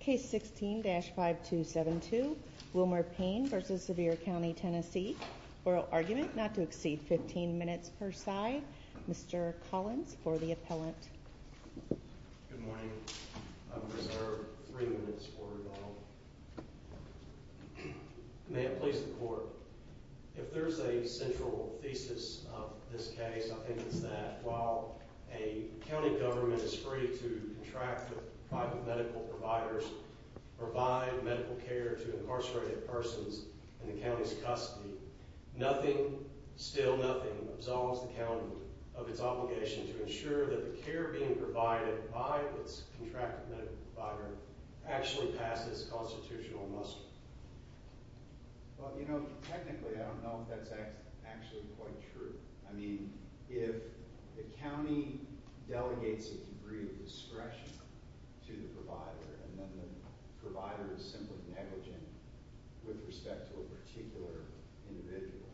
Case 16-5272, Wilmer Payne v. Sevier County Tennessee Oral argument not to exceed 15 minutes per side Mr. Collins for the appellant Good morning. I reserve 3 minutes for rebuttal May it please the court If there's a central thesis of this case I think it's that while a county government is free To contract with private medical providers Or provide medical care to incarcerated persons In the county's custody Nothing, still nothing, absolves the county Of its obligation to ensure that the care being provided By its contracted medical provider Actually passes constitutional muster Well, you know, technically I don't know if that's actually quite true I mean, if the county delegates a degree of discretion To the provider and then the provider is simply negligent With respect to a particular individual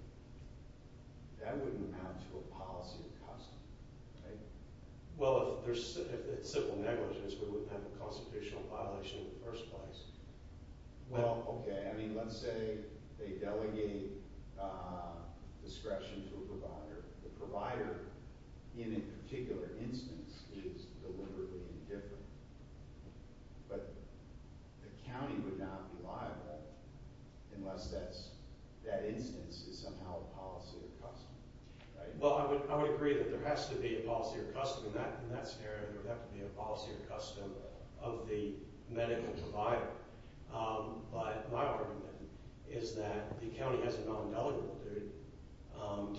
That wouldn't amount to a policy of custody, right? Well, if it's simple negligence We wouldn't have a constitutional violation in the first place Well, okay, I mean, let's say they delegate Discretion to a provider The provider, in a particular instance, is deliberately indifferent But the county would not be liable Unless that instance is somehow a policy of custody, right? Well, I would agree that there has to be a policy of custody In that scenario, there would have to be a policy of custody Of the medical provider But my argument is that the county has a non-delegable duty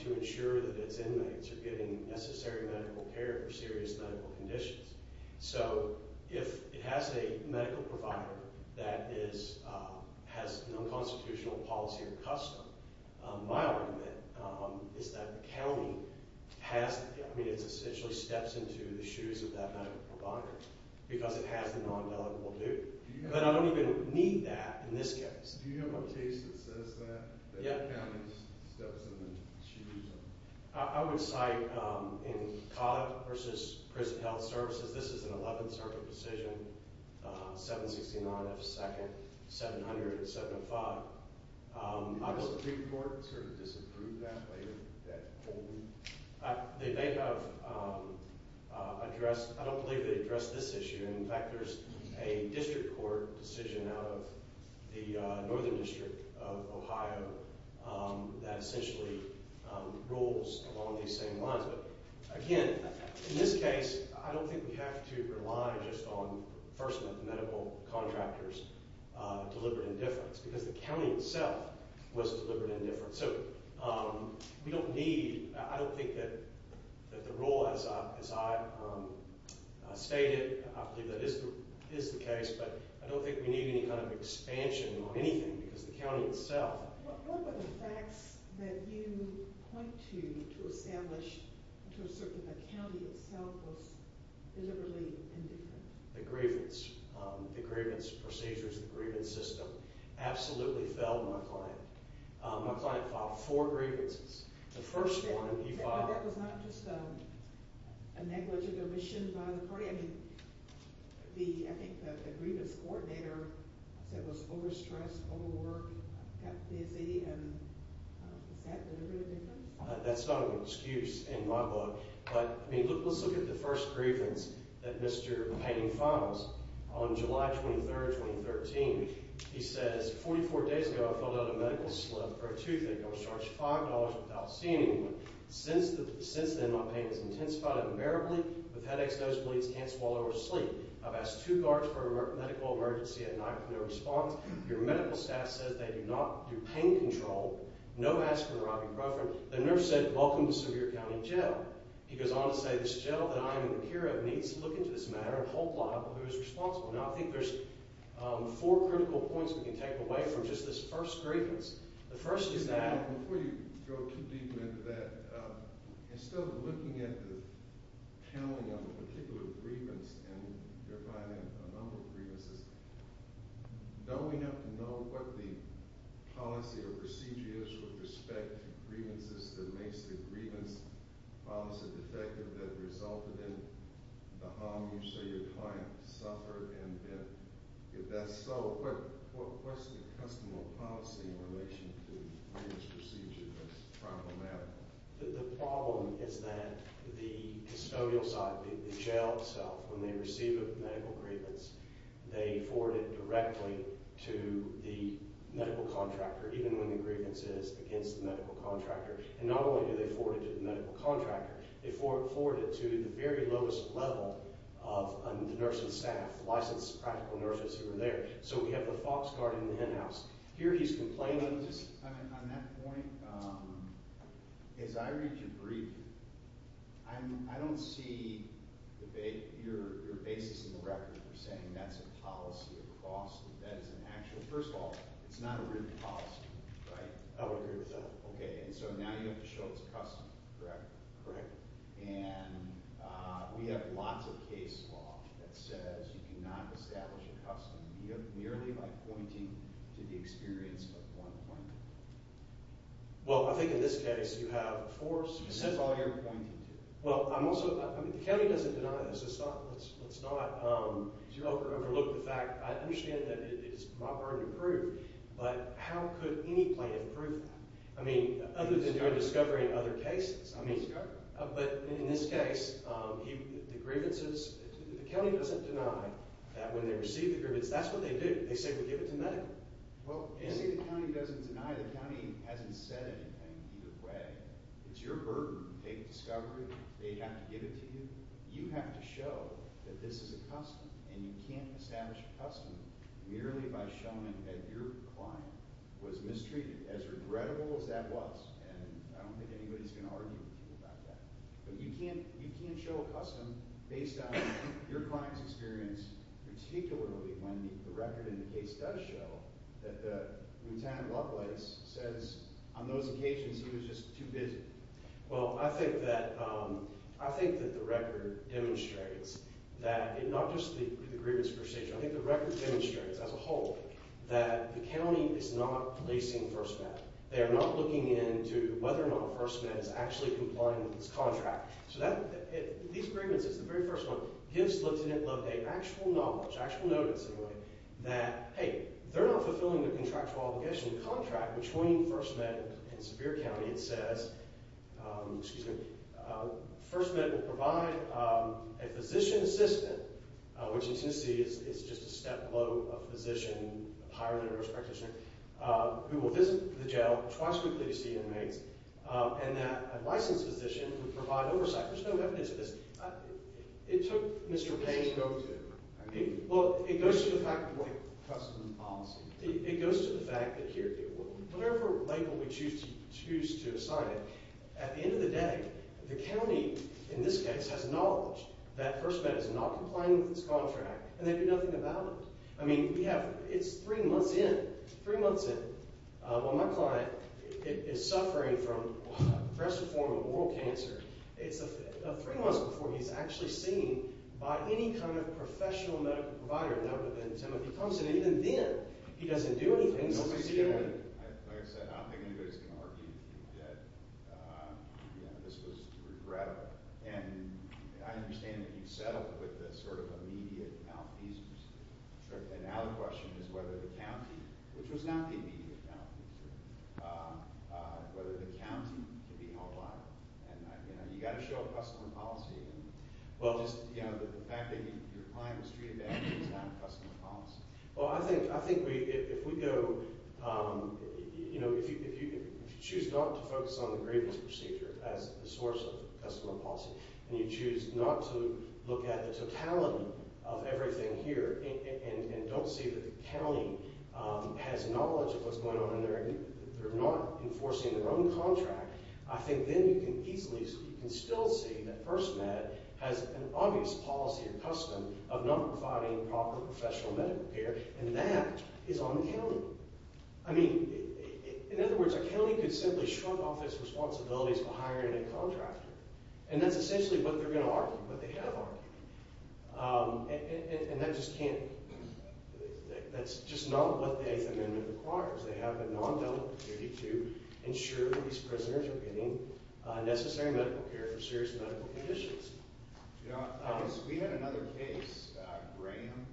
To ensure that its inmates are getting necessary medical care For serious medical conditions So if it has a medical provider That has an unconstitutional policy of custody My argument is that the county has to I mean, it essentially steps into the shoes of that medical provider Because it has the non-delegable duty But I don't even need that in this case Do you have a case that says that? Yeah That the county steps in the shoes of? I would cite in Collette v. Prison Health Services This is an 11th Circuit decision 769 F. 2nd, 700 and 705 Do you know if a pre-court sort of disapproved that later? That holding? They may have addressed I don't believe they addressed this issue In fact, there's a district court decision Out of the Northern District of Ohio That essentially rules along these same lines But again, in this case I don't think we have to rely just on First Amendment medical contractors Deliberate indifference Because the county itself was deliberate indifference We don't need I don't think that the rule as I stated I believe that is the case But I don't think we need any kind of expansion on anything Because the county itself What were the facts that you point to To establish, to assert that the county itself Was deliberately indifferent? The grievance The grievance procedures, the grievance system Absolutely failed my client My client filed four grievances The first one he filed That was not just a negligent omission by the party I think the grievance coordinator Was overstressed, overworked, got busy Is that deliberate indifference? That's not an excuse in my book But let's look at the first grievance That Mr. Payne files On July 23rd, 2013 He says 44 days ago I filled out a medical slip for a toothache I was charged $5 without seeing anyone Since then my pain has intensified unbearably With headaches, nosebleeds, can't swallow or sleep I've asked two guards for a medical emergency at night No response Your medical staff says they do not do pain control No aspirin or ibuprofen The nurse said welcome to Sevier County Jail He goes on to say This gentleman I am in the care of Needs to look into this matter And hold liable who is responsible Now I think there's four critical points We can take away from just this first grievance The first is that Before you go too deep into that Instead of looking at the Counting of a particular grievance And verifying a number of grievances Don't we have to know what the Policy or procedure is with respect to grievances That makes the grievance policy defective That resulted in the harm So your client suffered And if that's so What's the custom or policy in relation to The grievance procedure that's problematic The problem is that The custodial side, the jail itself When they receive a medical grievance They forward it directly to the medical contractor Even when the grievance is against the medical contractor And not only do they forward it to the medical contractor They forward it to the very lowest level Of the nurse and staff Licensed practical nurses who are there So we have the fox card in the hen house Here he's complaining On that point As I read your brief I don't see your basis in the record For saying that's a policy across That is an actual First of all, it's not a written policy Right? I would agree with that Okay, so now you have to show it's a custom Correct Correct And we have lots of case law That says you cannot establish a custom Merely by pointing to the experience of one client Well, I think in this case You have a force And that's all you're pointing to Well, I'm also The county doesn't deny this Let's not You overlook the fact I understand that it's my burden to prove But how could any plaintiff prove that? I mean, other than doing discovery in other cases But in this case The grievances The county doesn't deny That when they receive the grievance That's what they do They say we give it to medical Well, you see the county doesn't deny The county hasn't said anything either way It's your burden to take discovery They have to give it to you You have to show that this is a custom And you can't establish a custom Merely by showing that your client Was mistreated As regrettable as that was And I don't think anybody's going to argue with you about that But you can't show a custom Based on your client's experience Particularly when the record in the case does show That the Lieutenant Lovelace Says on those occasions He was just too busy Well, I think that I think that the record demonstrates That not just the grievance per se I think the record demonstrates as a whole That the county is not placing First Med They are not looking into whether or not First Med is actually complying with this contract So these grievances, the very first one Gives Lieutenant Lovelace actual knowledge Actual notice in a way That hey, they're not fulfilling their contractual obligation The contract between First Med and Sevier County It says Excuse me First Med will provide a physician assistant Which in Tennessee is just a step below A physician, a prior nurse practitioner Who will visit the jail twice weekly to see inmates And that a licensed physician Would provide oversight There's no evidence of this It took Mr. Payne Well, it goes to the fact Customs and policy It goes to the fact that here Whatever label we choose to assign it At the end of the day The county, in this case, has knowledge That First Med is not complying with this contract And they do nothing about it I mean, we have It's three months in Three months in While my client is suffering from A progressive form of oral cancer It's three months before he's actually seen By any kind of professional medical provider Now, but then Timothy Thompson Even then, he doesn't do anything Nobody's doing anything Like I said, I don't think anybody's going to argue That this was regrettable And I understand that you've settled With the sort of immediate malfeasance And now the question is whether the county Which was not the immediate malfeasance Whether the county can be held liable And, you know, you've got to show customer policy Well, just, you know, the fact that your client Was treated badly is not customer policy Well, I think if we go You know, if you choose not to focus On the grievance procedure As the source of customer policy And you choose not to look at the totality Of everything here And don't see that the county Has knowledge of what's going on And they're not enforcing their own contract I think then you can easily You can still see that FirstMed Has an obvious policy and custom Of not providing proper professional medical care And that is on the county I mean, in other words A county could simply shrug off Its responsibilities for hiring a contractor And that's essentially what they're going to argue What they have argued And that just can't That's just not what the Eighth Amendment requires They have a non-delegate duty To ensure that these prisoners Are getting necessary medical care For serious medical conditions You know, we had another case Graham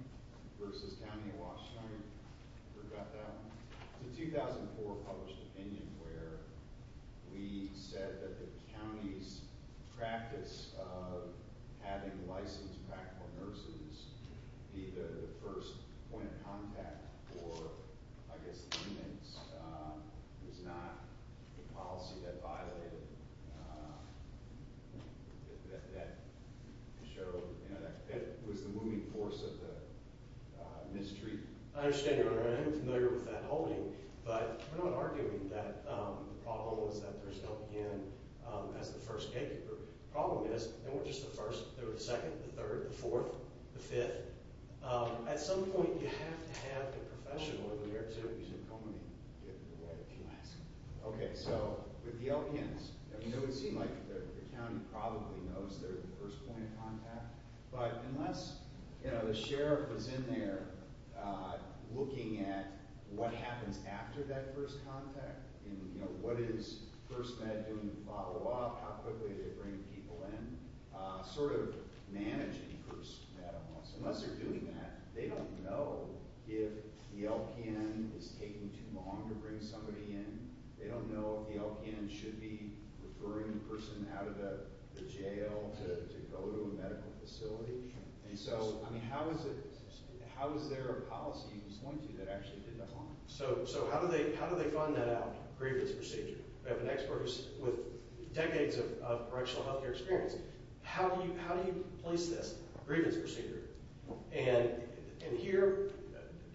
vs. County of Washtenaw You forgot that one It's a 2004 published opinion Where we said that the county's Practice of having licensed Practical nurses Be the first point of contact For, I guess, inmates It's not the policy that violated That was the moving force of the mistreatment I understand, Your Honor I'm familiar with that holding But we're not arguing that The problem is that there's no in As the first gatekeeper The problem is, and we're just the first There were the second, the third, the fourth The fifth At some point you have to have A professional in the area to Get in the way, if you ask Okay, so with the LPNs It would seem like the county Probably knows they're the first point of contact But unless The sheriff is in there Looking at What happens after that first contact What is First Med doing to follow up How quickly do they bring people in Sort of managing First Med Unless they're doing that They don't know if the LPN Is taking too long to bring somebody in They don't know if the LPN should be Referring the person out of the jail To go to a medical facility And so, I mean, how is it How is there a policy That actually did that wrong So how do they find that out Grievance procedure We have an expert with decades of Correctional health care experience How do you place this Grievance procedure And here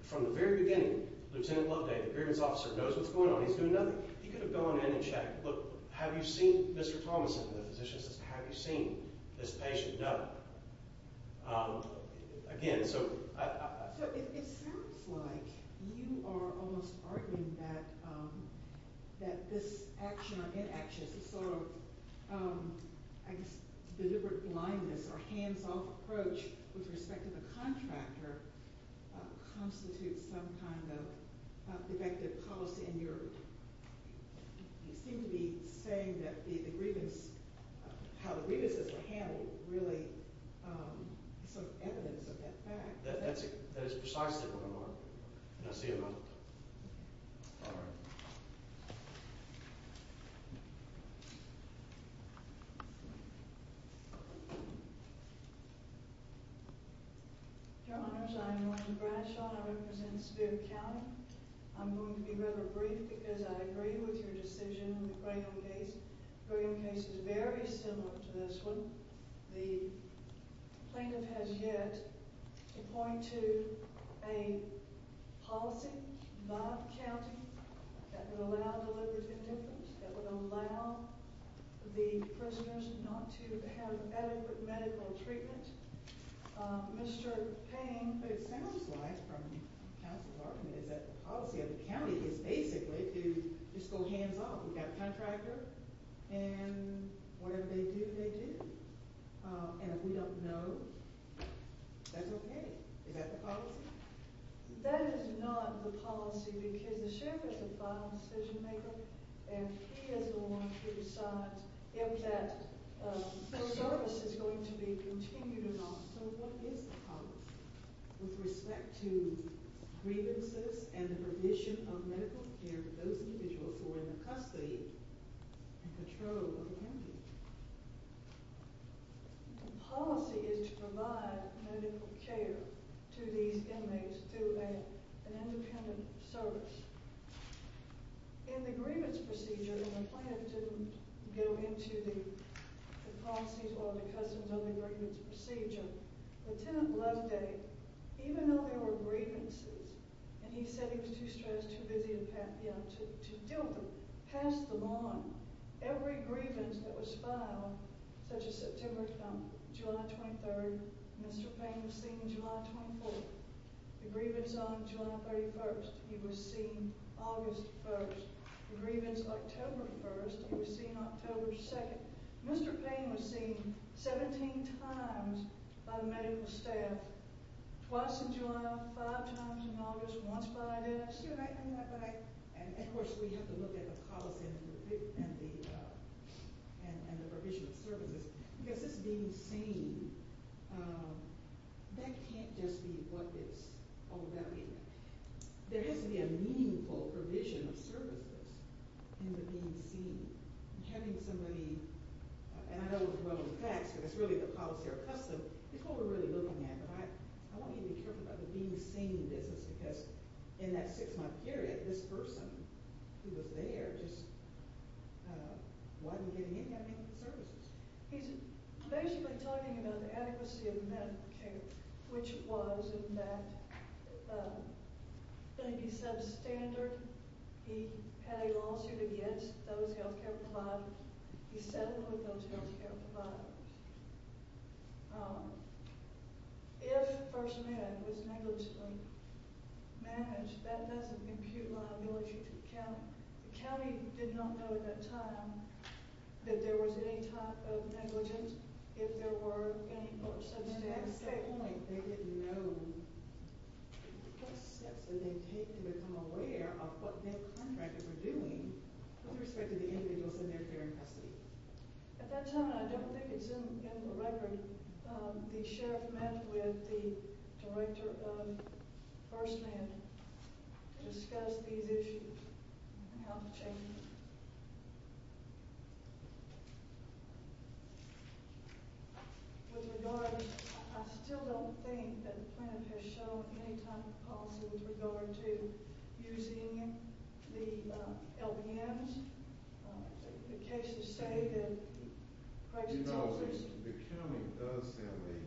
From the very beginning Lieutenant Lode, the grievance officer Knows what's going on, he's doing nothing He could have gone in and checked Look, have you seen Mr. Thomason The physician says, have you seen this patient No Again, so So it sounds like You are almost arguing that That this action or inaction This sort of I guess deliberate blindness Or hands-off approach With respect to the contractor Constitutes some kind of Defective policy in your You seem to be saying that The grievance How the grievances were handled Really Sort of evidence of that fact That is precisely what I'm arguing And that's the amount All right Your honors, I am Norma Bradshaw And I represent Spivak County I'm going to be rather brief Because I agree with your decision In the Brigham case The Brigham case is very similar To this one The plaintiff has yet To point to A policy By the county That would allow deliberate indifference That would allow The prisoners not to have Adequate medical treatment Mr. Payne It sounds like From counsel's argument Is that the policy of the county Is basically to just go hands-off We've got a contractor And whatever they do, they do And if we don't know That's okay Is that the policy? That is not the policy Because the sheriff is the final decision maker And he is the one Who decides if that Service is going to be Continued or not So what is the policy With respect to grievances And the provision of medical care For those individuals who are in the custody And control of the county The policy Is to provide medical care To these inmates Through an independent service In the grievance procedure And the plaintiff didn't Go into the policies Or the customs Of the grievance procedure Lieutenant Loveday Even though there were grievances And he said he was too stressed Too busy to deal with them Passed the line Every grievance that was filed Such as September July 23rd Mr. Payne was seen July 24th The grievance on July 31st He was seen August 1st The grievance October 1st He was seen October 2nd Mr. Payne was seen 17 times By the medical staff Twice in July Five times in August Once by a dentist And of course We have to look at the policy And the provision of services Because this being seen That can't just be What it's all about There has to be a meaningful Provision of services In the being seen Having somebody And I know it's one of the facts Because it's really the policy or custom It's what we're really looking at I want you to be careful about the being seen Because in that six month period This person Who was there Wasn't getting any services He's basically talking about The adequacy of medical care Which was in that That he's substandard He had a lawsuit against Those health care providers He settled with those health care providers If First Man was negligently Managed That doesn't impute liability to the county The county did not know At that time That there was any type of negligence If there were any At that point They didn't know What steps did they take to become aware Of what their contractors were doing With respect to the individuals In their care and custody At that time I don't think it's in the record The sheriff met with The director of First Man To discuss these issues And how to change them With regard I still don't think that The plaintiff has shown any type of policy With regard to using The LBMs The cases say that You know the county Does have a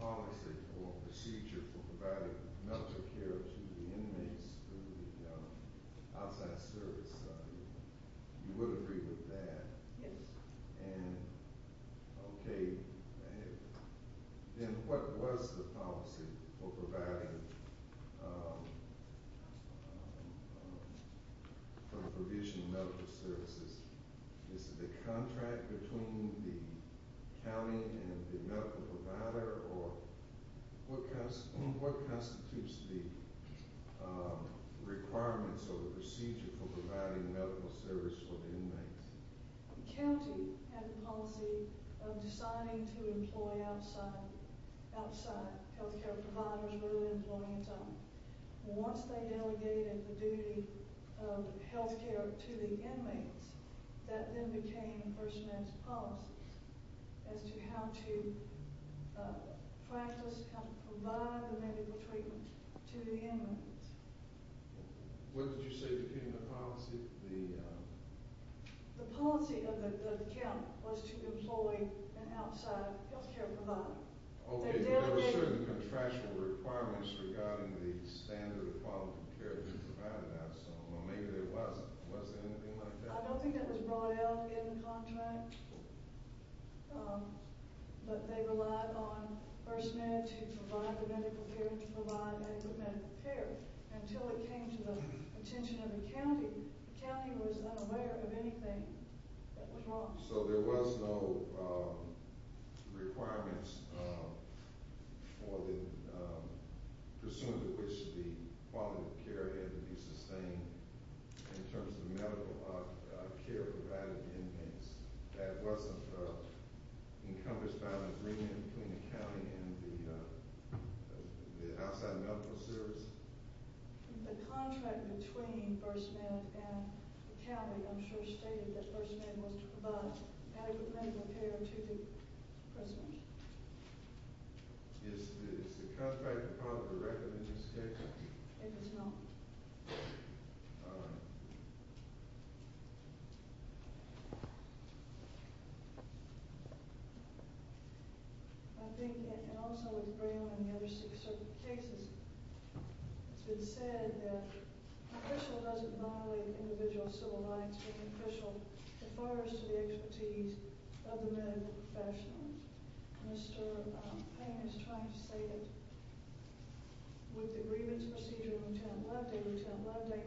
Policy or procedure For providing medical care To the inmates Outside service You would agree with that Yes And okay Then what was The policy for providing For the provision of medical services Is it the contract Between the county And the medical provider Or What constitutes the Requirements Or the procedure for providing medical Service for the inmates The county had the policy Of deciding to employ Outside Healthcare providers rather than Employing its own Once they delegated the duty Of healthcare to the Inmates that then became First Man's policy As to how to Practice How to provide the medical treatment To the inmates What did you say became the policy The The policy of the county Was to employ an outside Healthcare provider There were certain contractual requirements Regarding the standard Of quality of care Provided Was there anything like that I don't think it was brought out In the contract But they relied on First Man to provide the medical care To provide medical care Until it came to the attention Of the county The county was unaware of anything That was wrong So there was no Requirements For the Pursuant to which The quality of care Had to be sustained In terms of medical care Provided to the inmates That wasn't Encompassed by an agreement Between the county and the Outside medical service The contract between First Man and the county I'm sure stated that First Man Was to provide medical Care to the Prisoners Is the contract Irreconcilable It is not All right I think that In the other cases It's been said that Official doesn't violate Individual civil rights Official refers to the expertise Of the medical professionals Mr. Payne Is trying to say that With the grievance procedure Lieutenant Loveday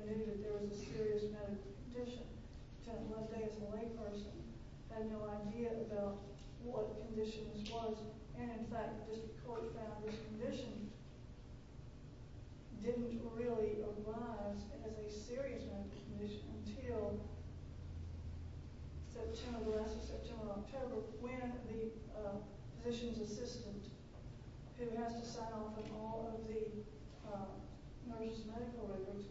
Knew that there was a serious medical condition Lieutenant Loveday As a layperson Had no idea about what condition this was And in fact The district court found this condition Didn't really arise As a serious medical condition Until September When the Physician's assistant Who has to sign off On all of the Nurses medical records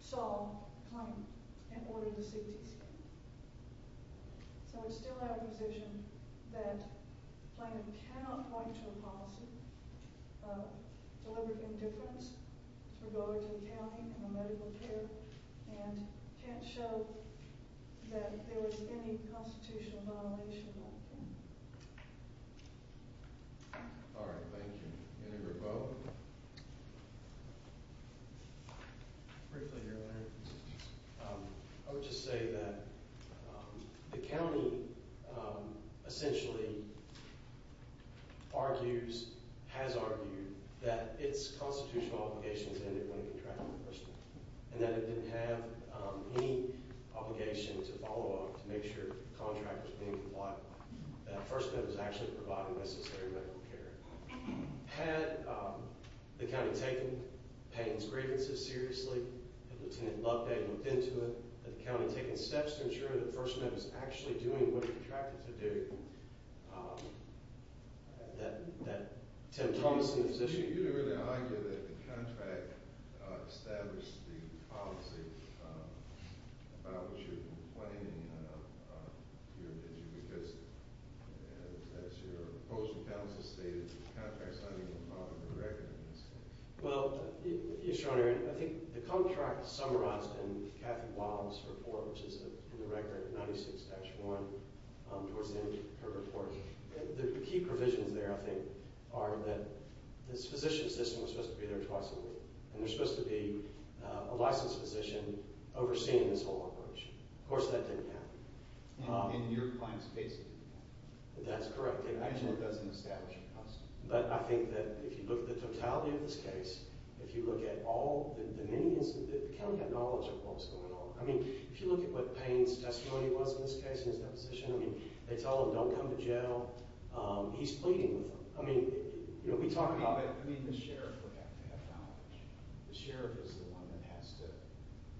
Saw And ordered the cdc So it's still our position That Plaintiff cannot point to a policy Of deliberate Indifference To the county And the medical care And can't show That there was any constitutional Violation All right Thank you I would just say That The county Essentially Argues Has argued That its constitutional obligations Ended when it contracted the person And that it didn't have any Obligation to follow up To make sure the contract was being complied with That the First Amendment was actually providing Necessary medical care Had the county taken Payne's grievances seriously Lieutenant Loveday looked into it Had the county taken steps to ensure That the First Amendment was actually doing What it was contracted to do That That You really argue that the contract Established the policy About what you're Complaining about Did you Because as your Opposing counsel stated The contract's not even part of the record Well I think the contract summarized In Kathy Wiles' report Which is in the record 96-1 Towards the end of her report The key provisions there I think Are that this physician's System was supposed to be there twice a week And there's supposed to be a licensed physician Overseeing this whole operation Of course that didn't happen In your client's case That's correct But I think that If you look at the totality of this case If you look at all The county had knowledge of what was going on I mean if you look at what They tell him don't come to jail He's pleading with them You know we talk about I mean the sheriff would have to have knowledge The sheriff is the one that has to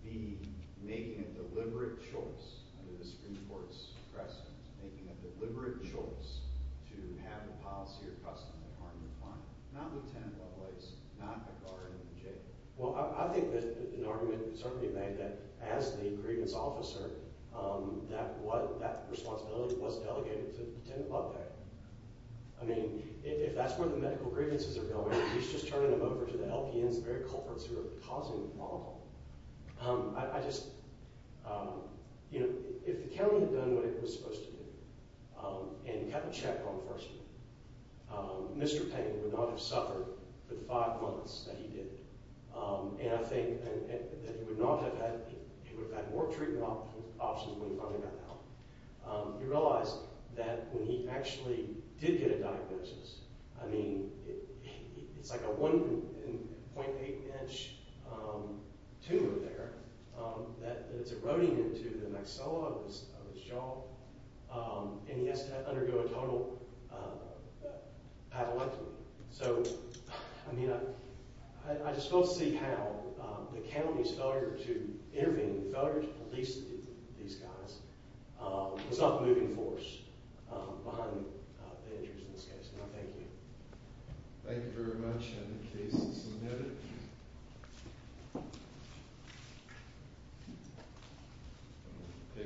Be making a deliberate choice Under the Supreme Court's President Making a deliberate choice To have a policy or custom To harm your client Not Lieutenant Lovelace, not a guard in jail Well I think that an argument could certainly be made That as the grievance officer That what That responsibility was delegated to Lieutenant Lovelace I mean If that's where the medical grievances are going He's just turning them over to the LPNs The very culprits who are causing the problem I just You know If the county had done what it was supposed to do And kept a check on first year Mr. Payne Would not have suffered for the five months That he did And I think that he would not have had He would have had more treatment options When he finally got out He realized that when he actually Did get a diagnosis I mean It's like a 1.8 inch Tumor there That it's eroding Into the maxilla of his jaw And he has to Undergo a total Apoplexy So I mean I just don't see how The county's failure to intervene The failure to police These guys Was not the moving force Behind the injuries in this case And I thank you Thank you very much And the case is submitted